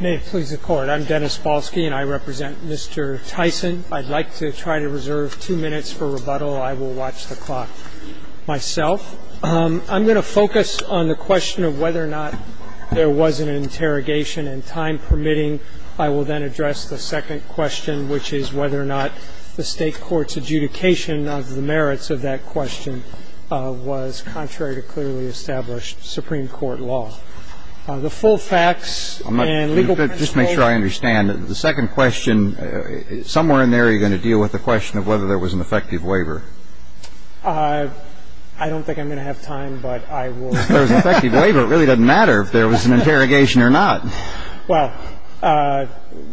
May it please the Court, I'm Dennis Balski and I represent Mr. Tyson. I'd like to try to reserve two minutes for rebuttal. I will watch the clock myself. I'm going to focus on the question of whether or not there was an interrogation and time permitting. I will then address the second question, which is whether or not the State Court's adjudication of the merits of that question was contrary to clearly established Supreme Court law. The full facts and legal principles... Just make sure I understand. The second question, somewhere in there you're going to deal with the question of whether there was an effective waiver. I don't think I'm going to have time, but I will... If there was an effective waiver, it really doesn't matter if there was an interrogation or not. Well,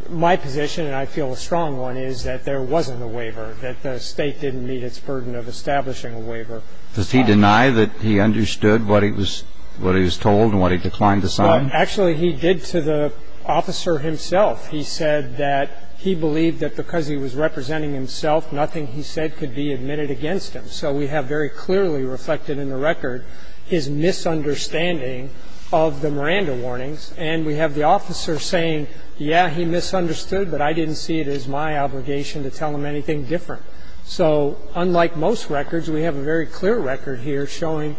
my position, and I feel a strong one, is that there wasn't a waiver, that the State didn't meet its burden of establishing a waiver. The State didn't meet its burden of establishing a waiver. The State didn't meet its burden of establishing a waiver. Does he deny that he understood what he was told and what he declined to sign? Well, actually, he did to the officer himself. He said that he believed that because he was representing himself, nothing he said could be admitted against him. So we have very clearly reflected in the record his misunderstanding of the Miranda warnings, and we have the officer saying, yeah, he misunderstood, but I didn't see it as my obligation to tell him anything different. So unlike most records, we have a very clear record here showing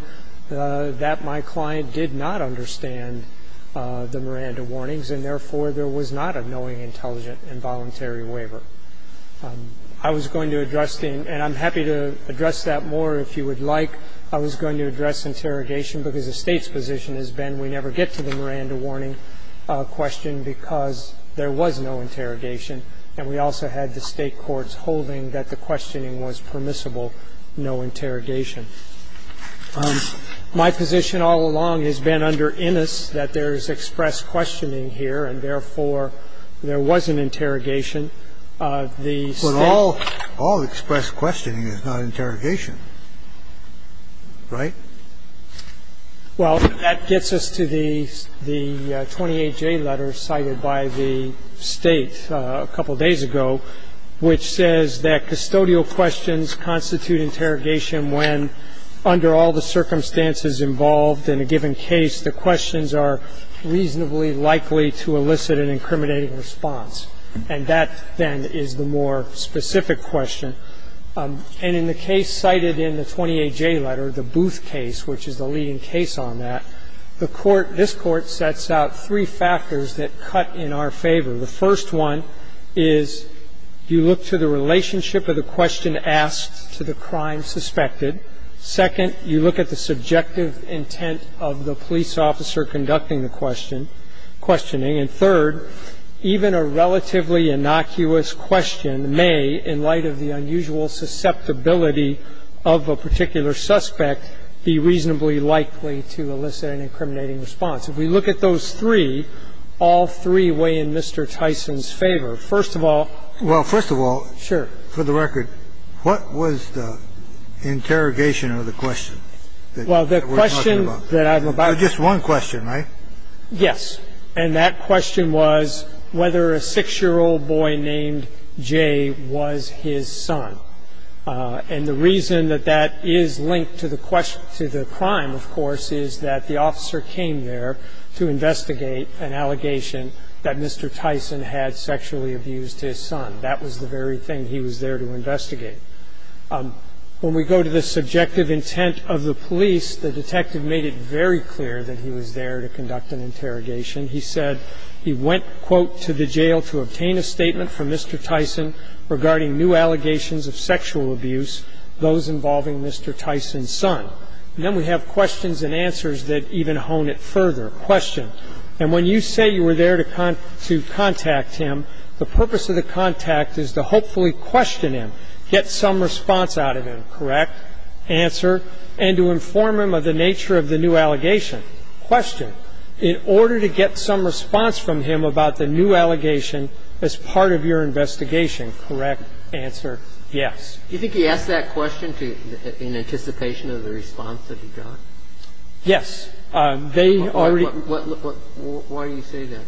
that my client did not understand the Miranda warnings, and therefore there was not a knowing, intelligent, involuntary waiver. I was going to address the end, and I'm happy to address that more if you would like. I was going to address interrogation because the State's position has been we never get to the Miranda warning question because there was no interrogation, and we also had the State courts holding that the questioning was permissible, no interrogation. My position all along has been under Innis that there is express questioning here, and therefore there was an interrogation. The State. But all expressed questioning is not interrogation, right? Well, that gets us to the 28J letter cited by the State a couple days ago, which says that custodial questions constitute interrogation when, under all the circumstances involved in a given case, the questions are reasonably likely to elicit an incriminating response. And that, then, is the more specific question. And in the case cited in the 28J letter, the Booth case, which is the leading case on that, the Court, this Court sets out three factors that cut in our favor. The first one is you look to the relationship of the question asked to the crime suspected. Second, you look at the subjective intent of the police officer conducting the question questioning. And third, even a relatively innocuous question may, in light of the unusual susceptibility of a particular suspect, be reasonably likely to elicit an incriminating response. If we look at those three, all three weigh in Mr. Tyson's favor. First of all. Well, first of all. Sure. For the record, what was the interrogation of the question? Well, the question that I'm about to ask. Just one question, right? Yes. And that question was whether a 6-year-old boy named Jay was his son. And the reason that that is linked to the crime, of course, is that the officer came there to investigate an allegation that Mr. Tyson had sexually abused his son. That was the very thing. He was there to investigate. When we go to the subjective intent of the police, the detective made it very clear that he was there to conduct an interrogation. He said he went, quote, to the jail to obtain a statement from Mr. Tyson regarding new allegations of sexual abuse, those involving Mr. Tyson's son. And then we have questions and answers that even hone it further. Question. And when you say you were there to contact him, the purpose of the contact is to hopefully question him, get some response out of him. Correct? Answer. And to inform him of the nature of the new allegation. Question. In order to get some response from him about the new allegation as part of your investigation. Correct? Answer. Yes. Do you think he asked that question in anticipation of the response that he got? Yes. They already. Why do you say that?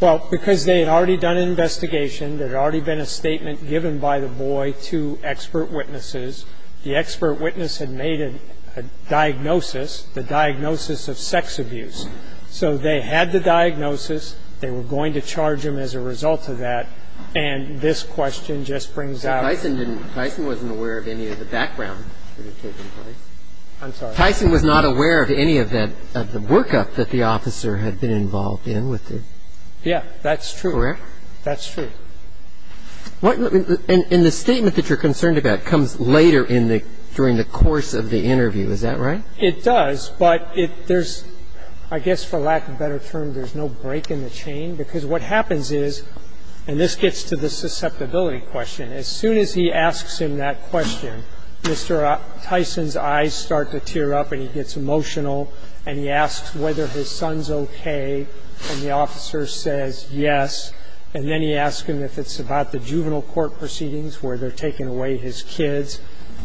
Well, because they had already done an investigation. There had already been a statement given by the boy to expert witnesses. The expert witness had made a diagnosis, the diagnosis of sex abuse. So they had the diagnosis. They were going to charge him as a result of that. And this question just brings out. Tyson didn't. Tyson wasn't aware of any of the background that had taken place. I'm sorry. Tyson was not aware of any of that, of the workup that the officer had been involved in. Yeah, that's true. Correct? That's true. And the statement that you're concerned about comes later in the, during the course of the interview. Is that right? It does. But there's, I guess for lack of a better term, there's no break in the chain. Because what happens is, and this gets to the susceptibility question. As soon as he asks him that question, Mr. Tyson's eyes start to tear up and he gets emotional. And he asks whether his son's okay. And the officer says yes. And then he asks him if it's about the juvenile court proceedings where they're taking away his kids.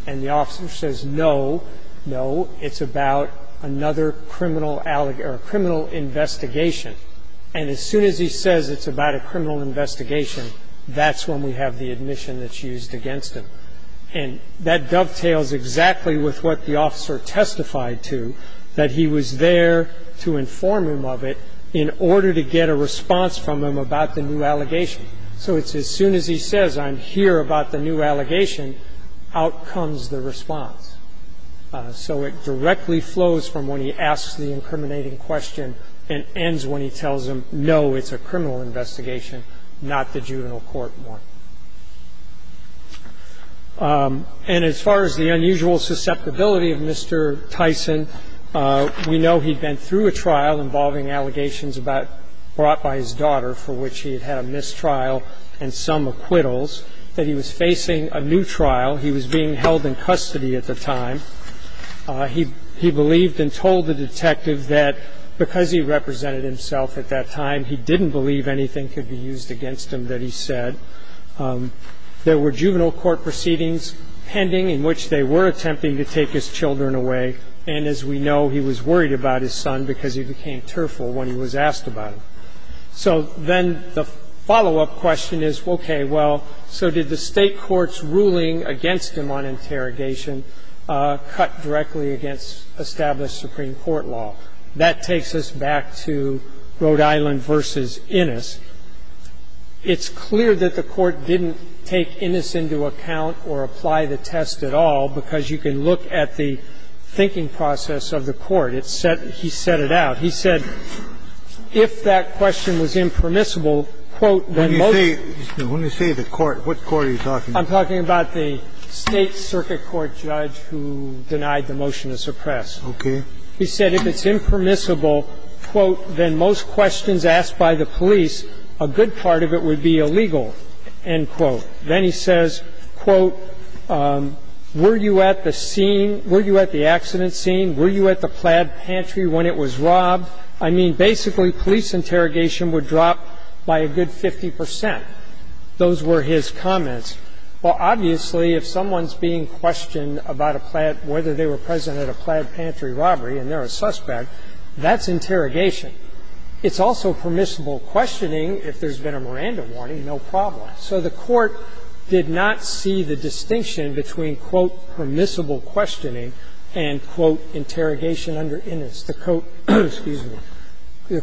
And the officer says no, no, it's about another criminal investigation. And as soon as he says it's about a criminal investigation, that's when we have the admission that's used against him. And that dovetails exactly with what the officer testified to, that he was there to inform him of it in order to get a response from him about the new allegation. So it's as soon as he says I'm here about the new allegation, out comes the response. So it directly flows from when he asks the incriminating question and ends when he tells him no, it's a criminal investigation, not the juvenile court one. And as far as the unusual susceptibility of Mr. Tyson, we know he'd been through a trial involving allegations brought by his daughter, for which he had had a mistrial and some acquittals, that he was facing a new trial. He was being held in custody at the time. He believed and told the detective that because he represented himself at that time, he didn't believe anything could be used against him that he said. There were juvenile court proceedings pending in which they were attempting to take his children away. And as we know, he was worried about his son because he became tearful when he was asked about him. So then the follow-up question is, okay, well, so did the state court's ruling against him on interrogation cut directly against established Supreme Court law? That takes us back to Rhode Island v. Innis. It's clear that the court didn't take Innis into account or apply the test at all because you can look at the thinking process of the court. He set it out. He said if that question was impermissible, quote, then most of the court what court are you talking about? I'm talking about the state circuit court judge who denied the motion to suppress. Okay. He said if it's impermissible, quote, then most questions asked by the police, a good part of it would be illegal, end quote. Then he says, quote, were you at the scene? Were you at the accident scene? Were you at the plaid pantry when it was robbed? I mean, basically, police interrogation would drop by a good 50 percent. Those were his comments. Well, obviously, if someone's being questioned about a plaid, whether they were present at a plaid pantry robbery and they're a suspect, that's interrogation. It's also permissible questioning if there's been a Miranda warning, no problem. So the court did not see the distinction between, quote, permissible questioning and, quote, interrogation under Innis. The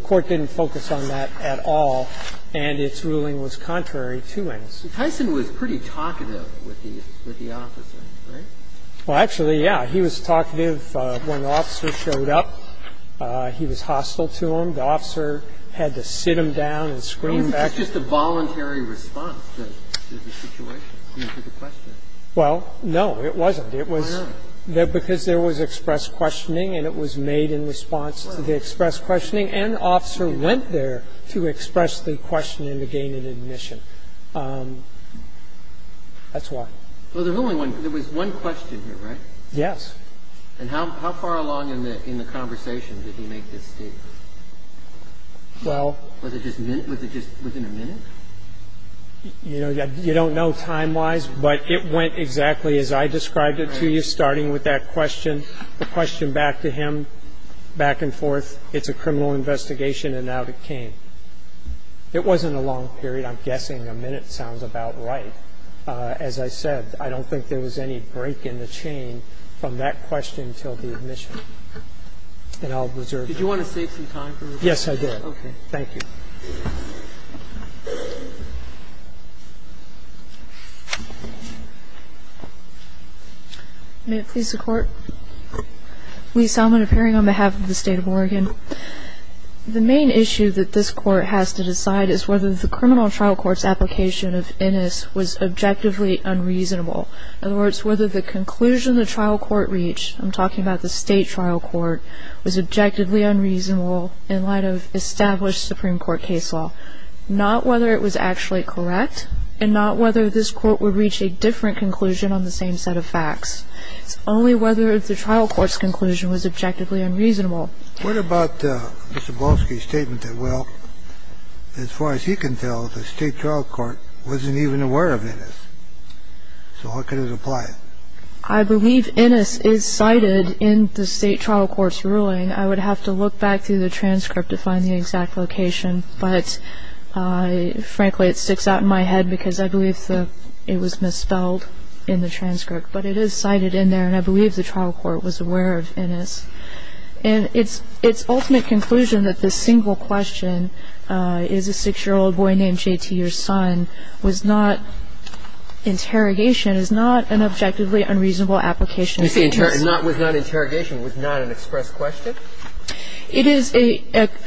court didn't focus on that at all, and its ruling was contrary to Innis. Tyson was pretty talkative with the officer, right? Well, actually, yeah. He was talkative when the officer showed up. He was hostile to him. The officer had to sit him down and scream back. That's just a voluntary response to the situation, I mean, to the question. Well, no, it wasn't. It was because there was express questioning and it was made in response to the express questioning, and the officer went there to express the question and to gain an admission. That's why. Well, there was only one. There was one question here, right? Yes. And how far along in the conversation did he make this statement? Well. Was it just within a minute? You don't know time-wise, but it went exactly as I described it to you, starting with that question, the question back to him, back and forth. It's a criminal investigation, and out it came. It wasn't a long period. I'm guessing a minute sounds about right. As I said, I don't think there was any break in the chain from that question until the admission. And I'll reserve that. Did you want to save some time for this? Yes, I did. Okay. Thank you. May it please the Court? Lee Salmon, appearing on behalf of the State of Oregon. The main issue that this Court has to decide is whether the criminal trial court's application of Innis was objectively unreasonable. In other words, whether the conclusion the trial court reached, I'm talking about the state trial court, was objectively unreasonable in light of established Supreme Court case law. Not whether it was actually correct, and not whether this court would reach a different conclusion on the same set of facts. It's only whether the trial court's conclusion was objectively unreasonable. What about Mr. Blofsky's statement that, well, as far as he can tell, the state trial court wasn't even aware of Innis? So how could it apply? I believe Innis is cited in the state trial court's ruling. I would have to look back through the transcript to find the exact location. But, frankly, it sticks out in my head because I believe it was misspelled in the transcript. But it is cited in there, and I believe the trial court was aware of Innis. And its ultimate conclusion that this single question, is a six-year-old boy named J.T. your son, was not interrogation, is not an objectively unreasonable application. You're saying it was not interrogation, it was not an express question? It is an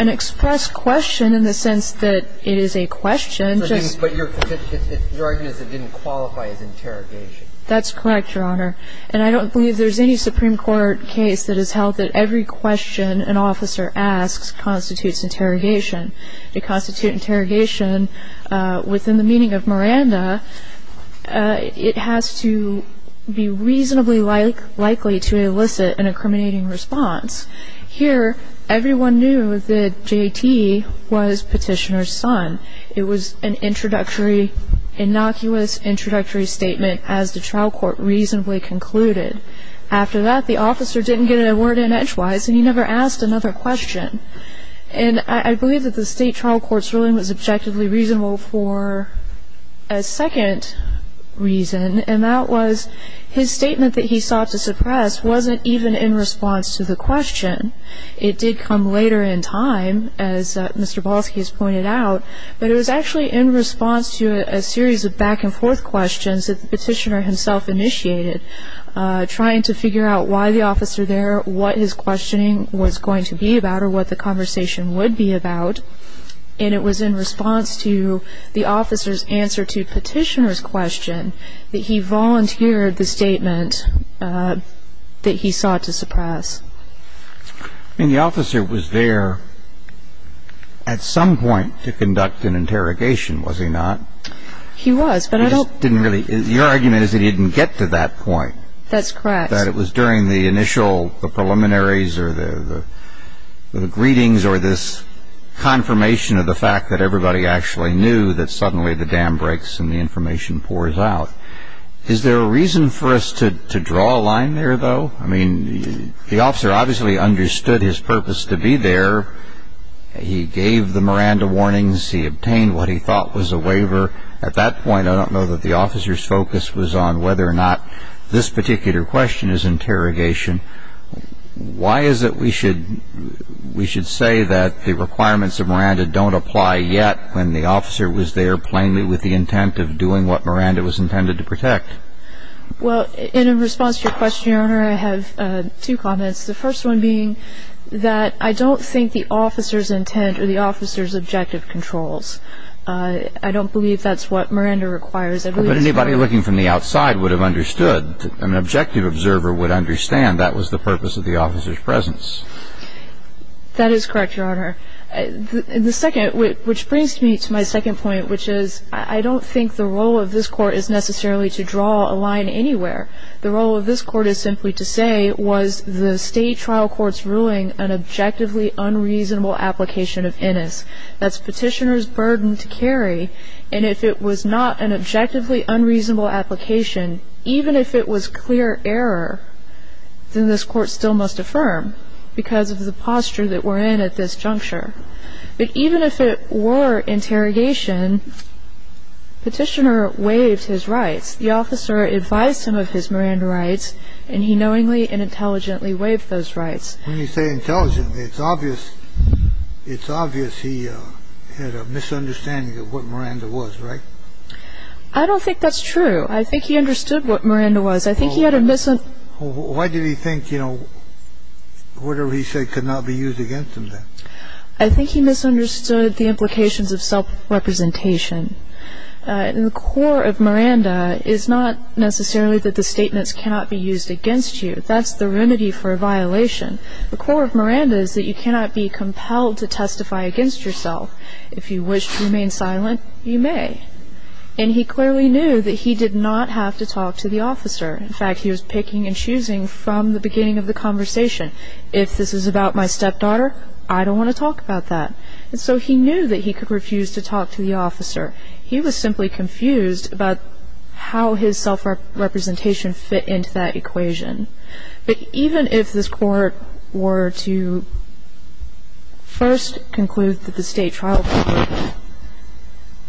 express question in the sense that it is a question. But your argument is it didn't qualify as interrogation. That's correct, Your Honor. And I don't believe there's any Supreme Court case that has held that every question an officer asks constitutes interrogation. To constitute interrogation within the meaning of Miranda, it has to be reasonably likely to elicit an incriminating response. Here, everyone knew that J.T. was petitioner's son. It was an introductory, innocuous introductory statement, as the trial court reasonably concluded. After that, the officer didn't get a word in edgewise, and he never asked another question. And I believe that the state trial court's ruling was objectively reasonable for a second reason, and that was his statement that he sought to suppress wasn't even in response to the question. It did come later in time, as Mr. Balski has pointed out, but it was actually in response to a series of back-and-forth questions that the trying to figure out why the officer there, what his questioning was going to be about, or what the conversation would be about. And it was in response to the officer's answer to petitioner's question that he volunteered the statement that he sought to suppress. I mean, the officer was there at some point to conduct an interrogation, was he not? He was, but I don't Your argument is that he didn't get to that point. That's correct. That it was during the initial preliminaries or the greetings or this confirmation of the fact that everybody actually knew that suddenly the dam breaks and the information pours out. Is there a reason for us to draw a line there, though? I mean, the officer obviously understood his purpose to be there. He gave the Miranda warnings. He obtained what he thought was a waiver. At that point, I don't know that the officer's focus was on whether or not this particular question is interrogation. Why is it we should say that the requirements of Miranda don't apply yet when the officer was there plainly with the intent of doing what Miranda was intended to protect? Well, in response to your question, Your Honor, I have two comments, the first one being that I don't think the officer's intent or the officer's objective controls. I don't believe that's what Miranda requires. But anybody looking from the outside would have understood. An objective observer would understand that was the purpose of the officer's presence. That is correct, Your Honor. The second, which brings me to my second point, which is I don't think the role of this Court is necessarily to draw a line anywhere. The role of this Court is simply to say, was the state trial courts ruling an objectively unreasonable application of INIS? That's Petitioner's burden to carry. And if it was not an objectively unreasonable application, even if it was clear error, then this Court still must affirm because of the posture that we're in at this juncture. But even if it were interrogation, Petitioner waived his rights. The officer advised him of his Miranda rights, and he knowingly and intelligently waived those rights. When you say intelligently, it's obvious he had a misunderstanding of what Miranda was, right? I don't think that's true. I think he understood what Miranda was. I think he had a misunderstanding. Why did he think, you know, whatever he said could not be used against him then? I think he misunderstood the implications of self-representation. At the core of Miranda is not necessarily that the statements cannot be used against you. That's the remedy for a violation. The core of Miranda is that you cannot be compelled to testify against yourself. If you wish to remain silent, you may. And he clearly knew that he did not have to talk to the officer. In fact, he was picking and choosing from the beginning of the conversation. If this is about my stepdaughter, I don't want to talk about that. Jol Albert, when he s residence and decided to make a claim against Medina at the court that he would sue her, he was simply confused about how his self-representation fit into that equation. But even if this court were to first conclude that the State trial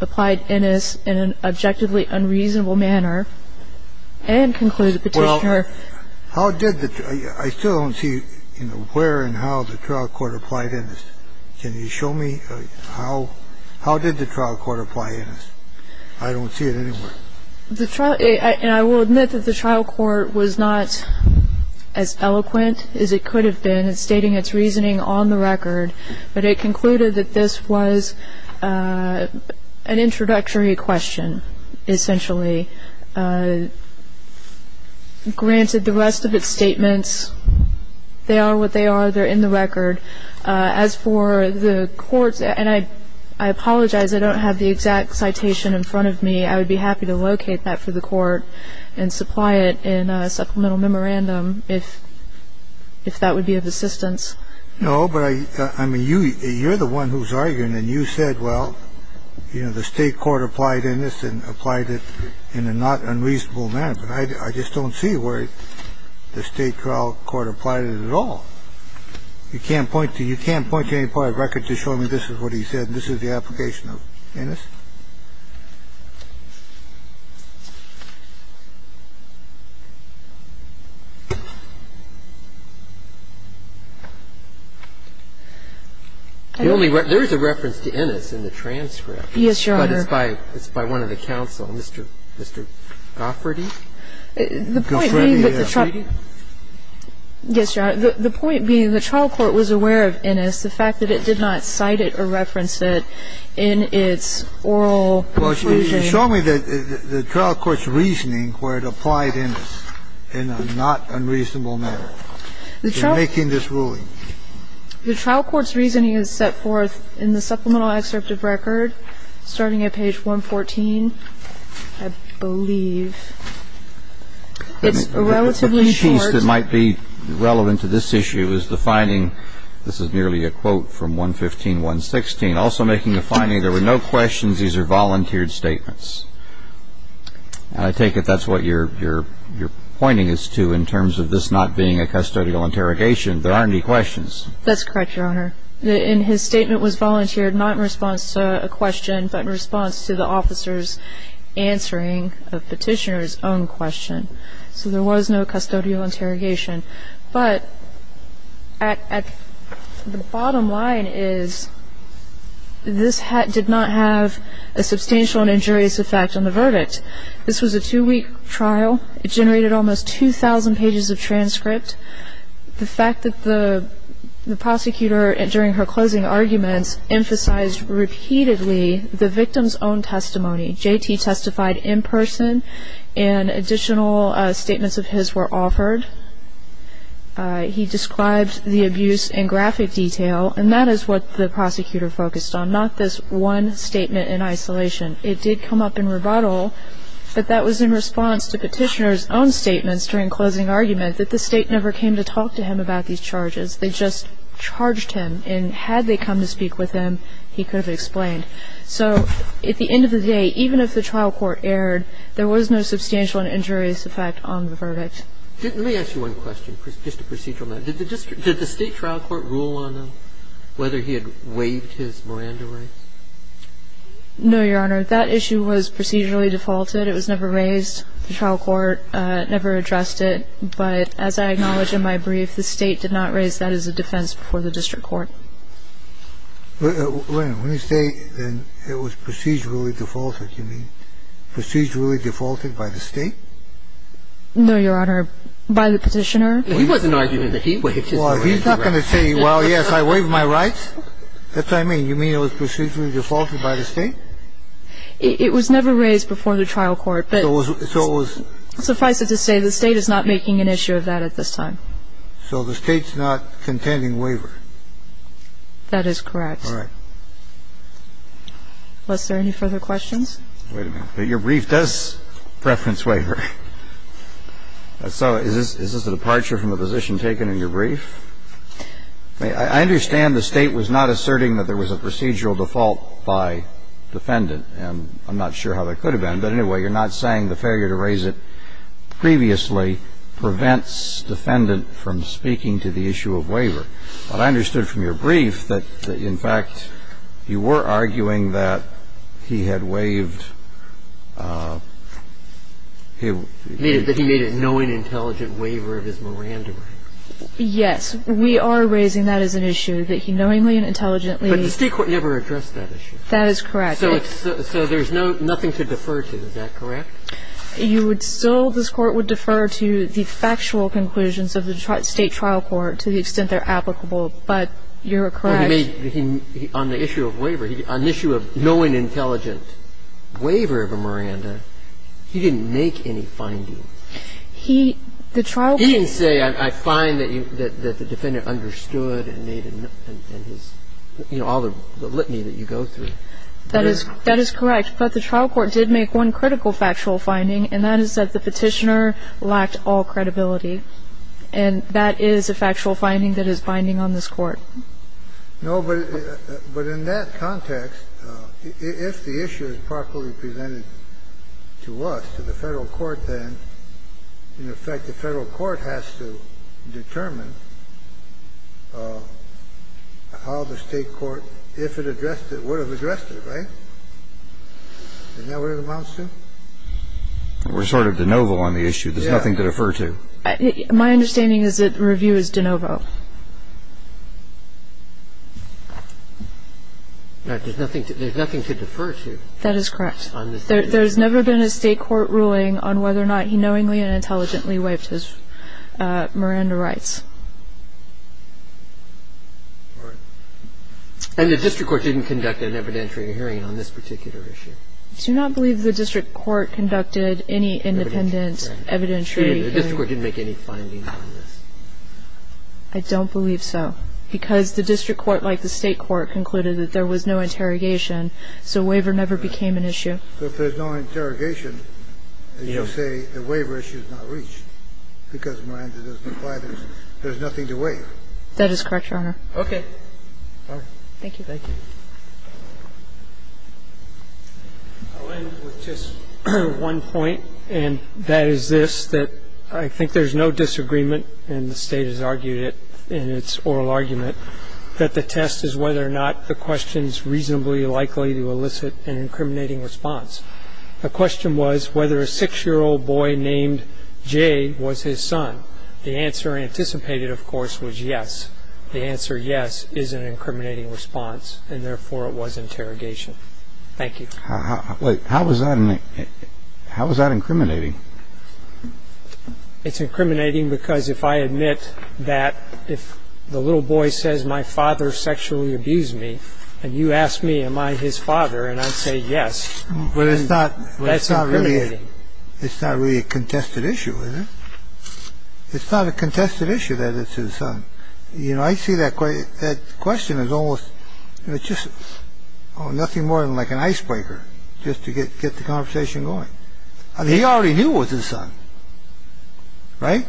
courtapplied in an objectively unreasonable manner and conclude the petitioner Well, how did the, I still don't see where and how the trial court applied in this. Can you show me how, how did the trial court apply in this? I don't see it anywhere. The trial, and I will admit that the trial court was not as eloquent as it could have been in stating its reasoning on the record. But it concluded that this was an introductory question, essentially. Granted, the rest of its statements, they are what they are. They're in the record. As for the courts, and I apologize, I don't have the exact citation in front of me. I would be happy to locate that for the court and supply it in a supplemental memorandum if that would be of assistance. No, but I mean, you, you're the one who's arguing and you said, well, you know, the State court applied in this and applied it in a not unreasonable manner. I just don't see where the State trial court applied it at all. You can't point to you can't point to any part of record to show me this is what he said. And this is the application of Innis? There is a reference to Innis in the transcript. Yes, Your Honor. But it's by one of the counsel, Mr. Gafferty. The point being that the trial court was aware of Innis, the fact that it did not cite it or reference it in its oral inclusion. Well, you showed me the trial court's reasoning where it applied Innis in a not unreasonable manner in making this ruling. The trial court's reasoning is set forth in the supplemental excerpt of record starting at page 114, I believe. It's relatively short. I guess it might be relevant to this issue is the finding. This is merely a quote from 115-116. Also making a finding, there were no questions. These are volunteered statements. I take it that's what you're pointing us to in terms of this not being a custodial interrogation. There aren't any questions. That's correct, Your Honor. And his statement was volunteered not in response to a question, but in response to the officer's answering a petitioner's own question. So there was no custodial interrogation. But the bottom line is this did not have a substantial and injurious effect on the verdict. This was a two-week trial. It generated almost 2,000 pages of transcript. The fact that the prosecutor during her closing arguments emphasized repeatedly the victim's own testimony. J.T. testified in person, and additional statements of his were offered. He described the abuse in graphic detail, and that is what the prosecutor focused on, not this one statement in isolation. It did come up in rebuttal, but that was in response to petitioner's own statements during closing argument that the state never came to talk to him about these charges. They just charged him, and had they come to speak with him, he could have explained. So at the end of the day, even if the trial court erred, there was no substantial and injurious effect on the verdict. Let me ask you one question, just a procedural matter. Did the state trial court rule on whether he had waived his Miranda rights? No, Your Honor. That issue was procedurally defaulted. It was never raised. The trial court never addressed it. But as I acknowledge in my brief, the state did not raise that as a defense before the district court. It was never raised before the trial court. It was never raised before the trial court. When you say it was procedurally defaulted, you mean procedurally defaulted by the state? No, Your Honor. By the petitioner. He wasn't arguing that he waived his Miranda rights. Well, he's not going to say, well, yes, I waived my rights. That's what I mean. And you mean it was procedurally defaulted by the state? It was never raised before the trial court. But suffice it to say, the state is not making an issue of that at this time. So the state's not contending waiver. That is correct. All right. Was there any further questions? Wait a minute. But your brief does preference waiver. So is this a departure from a position taken in your brief? I understand the state was not asserting that there was a procedural default by defendant. And I'm not sure how that could have been. But anyway, you're not saying the failure to raise it previously prevents defendant from speaking to the issue of waiver. But I understood from your brief that, in fact, you were arguing that he had waived his right to speak to the issue of waiver. Yes. But you're not saying that he made a knowing, intelligent waiver of his Miranda rights. Yes. We are raising that as an issue, that he knowingly and intelligently ---- But the state court never addressed that issue. That is correct. So there's nothing to defer to. Is that correct? You would still ---- this Court would defer to the factual conclusions of the state trial court to the extent they're applicable. But you're correct ---- On the issue of waiver, on the issue of knowing, intelligent waiver of a Miranda, he didn't make any findings. He, the trial court ---- He didn't say, I find that the defendant understood and made his, you know, all the litany that you go through. That is correct. But the trial court did make one critical factual finding, and that is that the petitioner lacked all credibility. And that is a factual finding that is binding on this Court. No, but in that context, if the issue is properly presented to us, to the Federal Court, then, in effect, the Federal Court has to determine how the state court, if it addressed it, would have addressed it, right? Isn't that what it amounts to? We're sort of de novo on the issue. There's nothing to defer to. My understanding is that the review is de novo. There's nothing to defer to. That is correct. There's never been a state court ruling on whether or not he knowingly and intelligently waived his Miranda rights. And the district court didn't conduct an evidentiary hearing on this particular issue. I do not believe the district court conducted any independent evidentiary I don't believe the district court did. The district court didn't make any findings on this. I don't believe so. Because the district court, like the state court, concluded that there was no interrogation, so waiver never became an issue. So if there's no interrogation, as you say, the waiver issue is not reached, because Miranda doesn't apply. There's nothing to waive. That is correct, Your Honor. Okay. All right. Thank you. Thank you. I'll end with just one point, and that is this, that I think there's no disagreement, and the state has argued it in its oral argument, that the test is whether or not the question is reasonably likely to elicit an incriminating response. The question was whether a 6-year-old boy named Jay was his son. The answer anticipated, of course, was yes. The answer yes is an incriminating response. And therefore, it was interrogation. Thank you. How was that incriminating? It's incriminating because if I admit that if the little boy says my father sexually abused me, and you ask me am I his father, and I say yes, that's incriminating. It's not really a contested issue, is it? It's not a contested issue that it's his son. You know, I see that question as almost, it's just nothing more than like an icebreaker just to get the conversation going. He already knew it was his son. Right?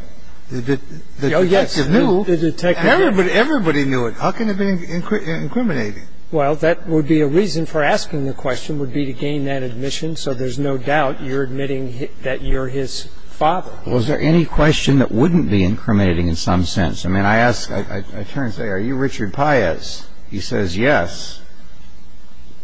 The detective knew. Everybody knew it. How can it be incriminating? Well, that would be a reason for asking the question would be to gain that admission so there's no doubt you're admitting that you're his father. Was there any question that wouldn't be incriminating in some sense? I mean, I ask, I turn and say are you Richard Paez? He says yes.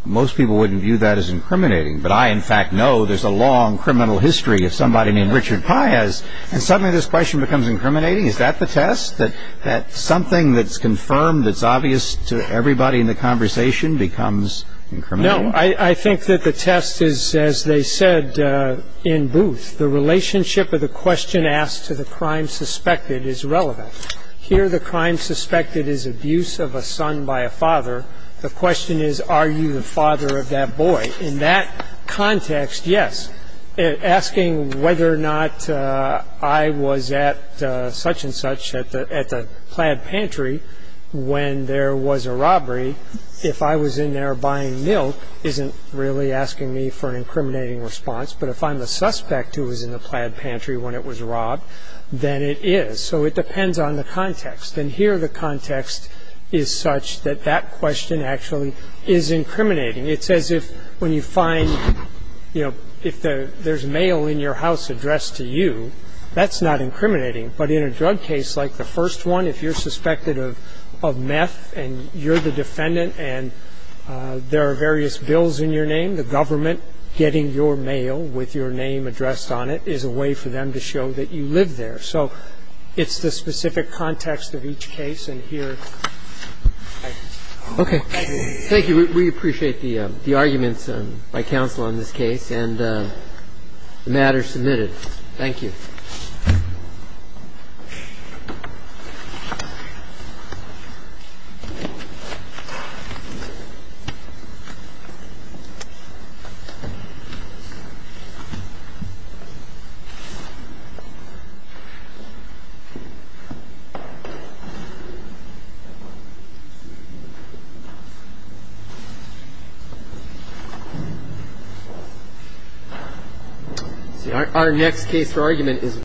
Most people wouldn't view that as incriminating. But I, in fact, know there's a long criminal history if somebody named Richard Paez, and suddenly this question becomes incriminating. Is that the test, that something that's confirmed, that's obvious to everybody in the conversation becomes incriminating? No. I think that the test is, as they said in Booth, the relationship of the question asked to the crime suspected is relevant. Here the crime suspected is abuse of a son by a father. The question is are you the father of that boy? In that context, yes. Asking whether or not I was at such and such at the plaid pantry when there was a robbery, if I was in there buying milk, isn't really asking me for an incriminating response. But if I'm the suspect who was in the plaid pantry when it was robbed, then it is. So it depends on the context. And here the context is such that that question actually is incriminating. It's as if when you find, you know, if there's mail in your house addressed to you, that's not incriminating. But in a drug case like the first one, if you're suspected of meth and you're the defendant and there are various bills in your name, the government getting your mail with your name addressed on it is a way for them to show that you live there. So it's the specific context of each case. And here I agree. Thank you. We appreciate the arguments by counsel on this case. And the matter is submitted. Thank you. Thank you. Thank you.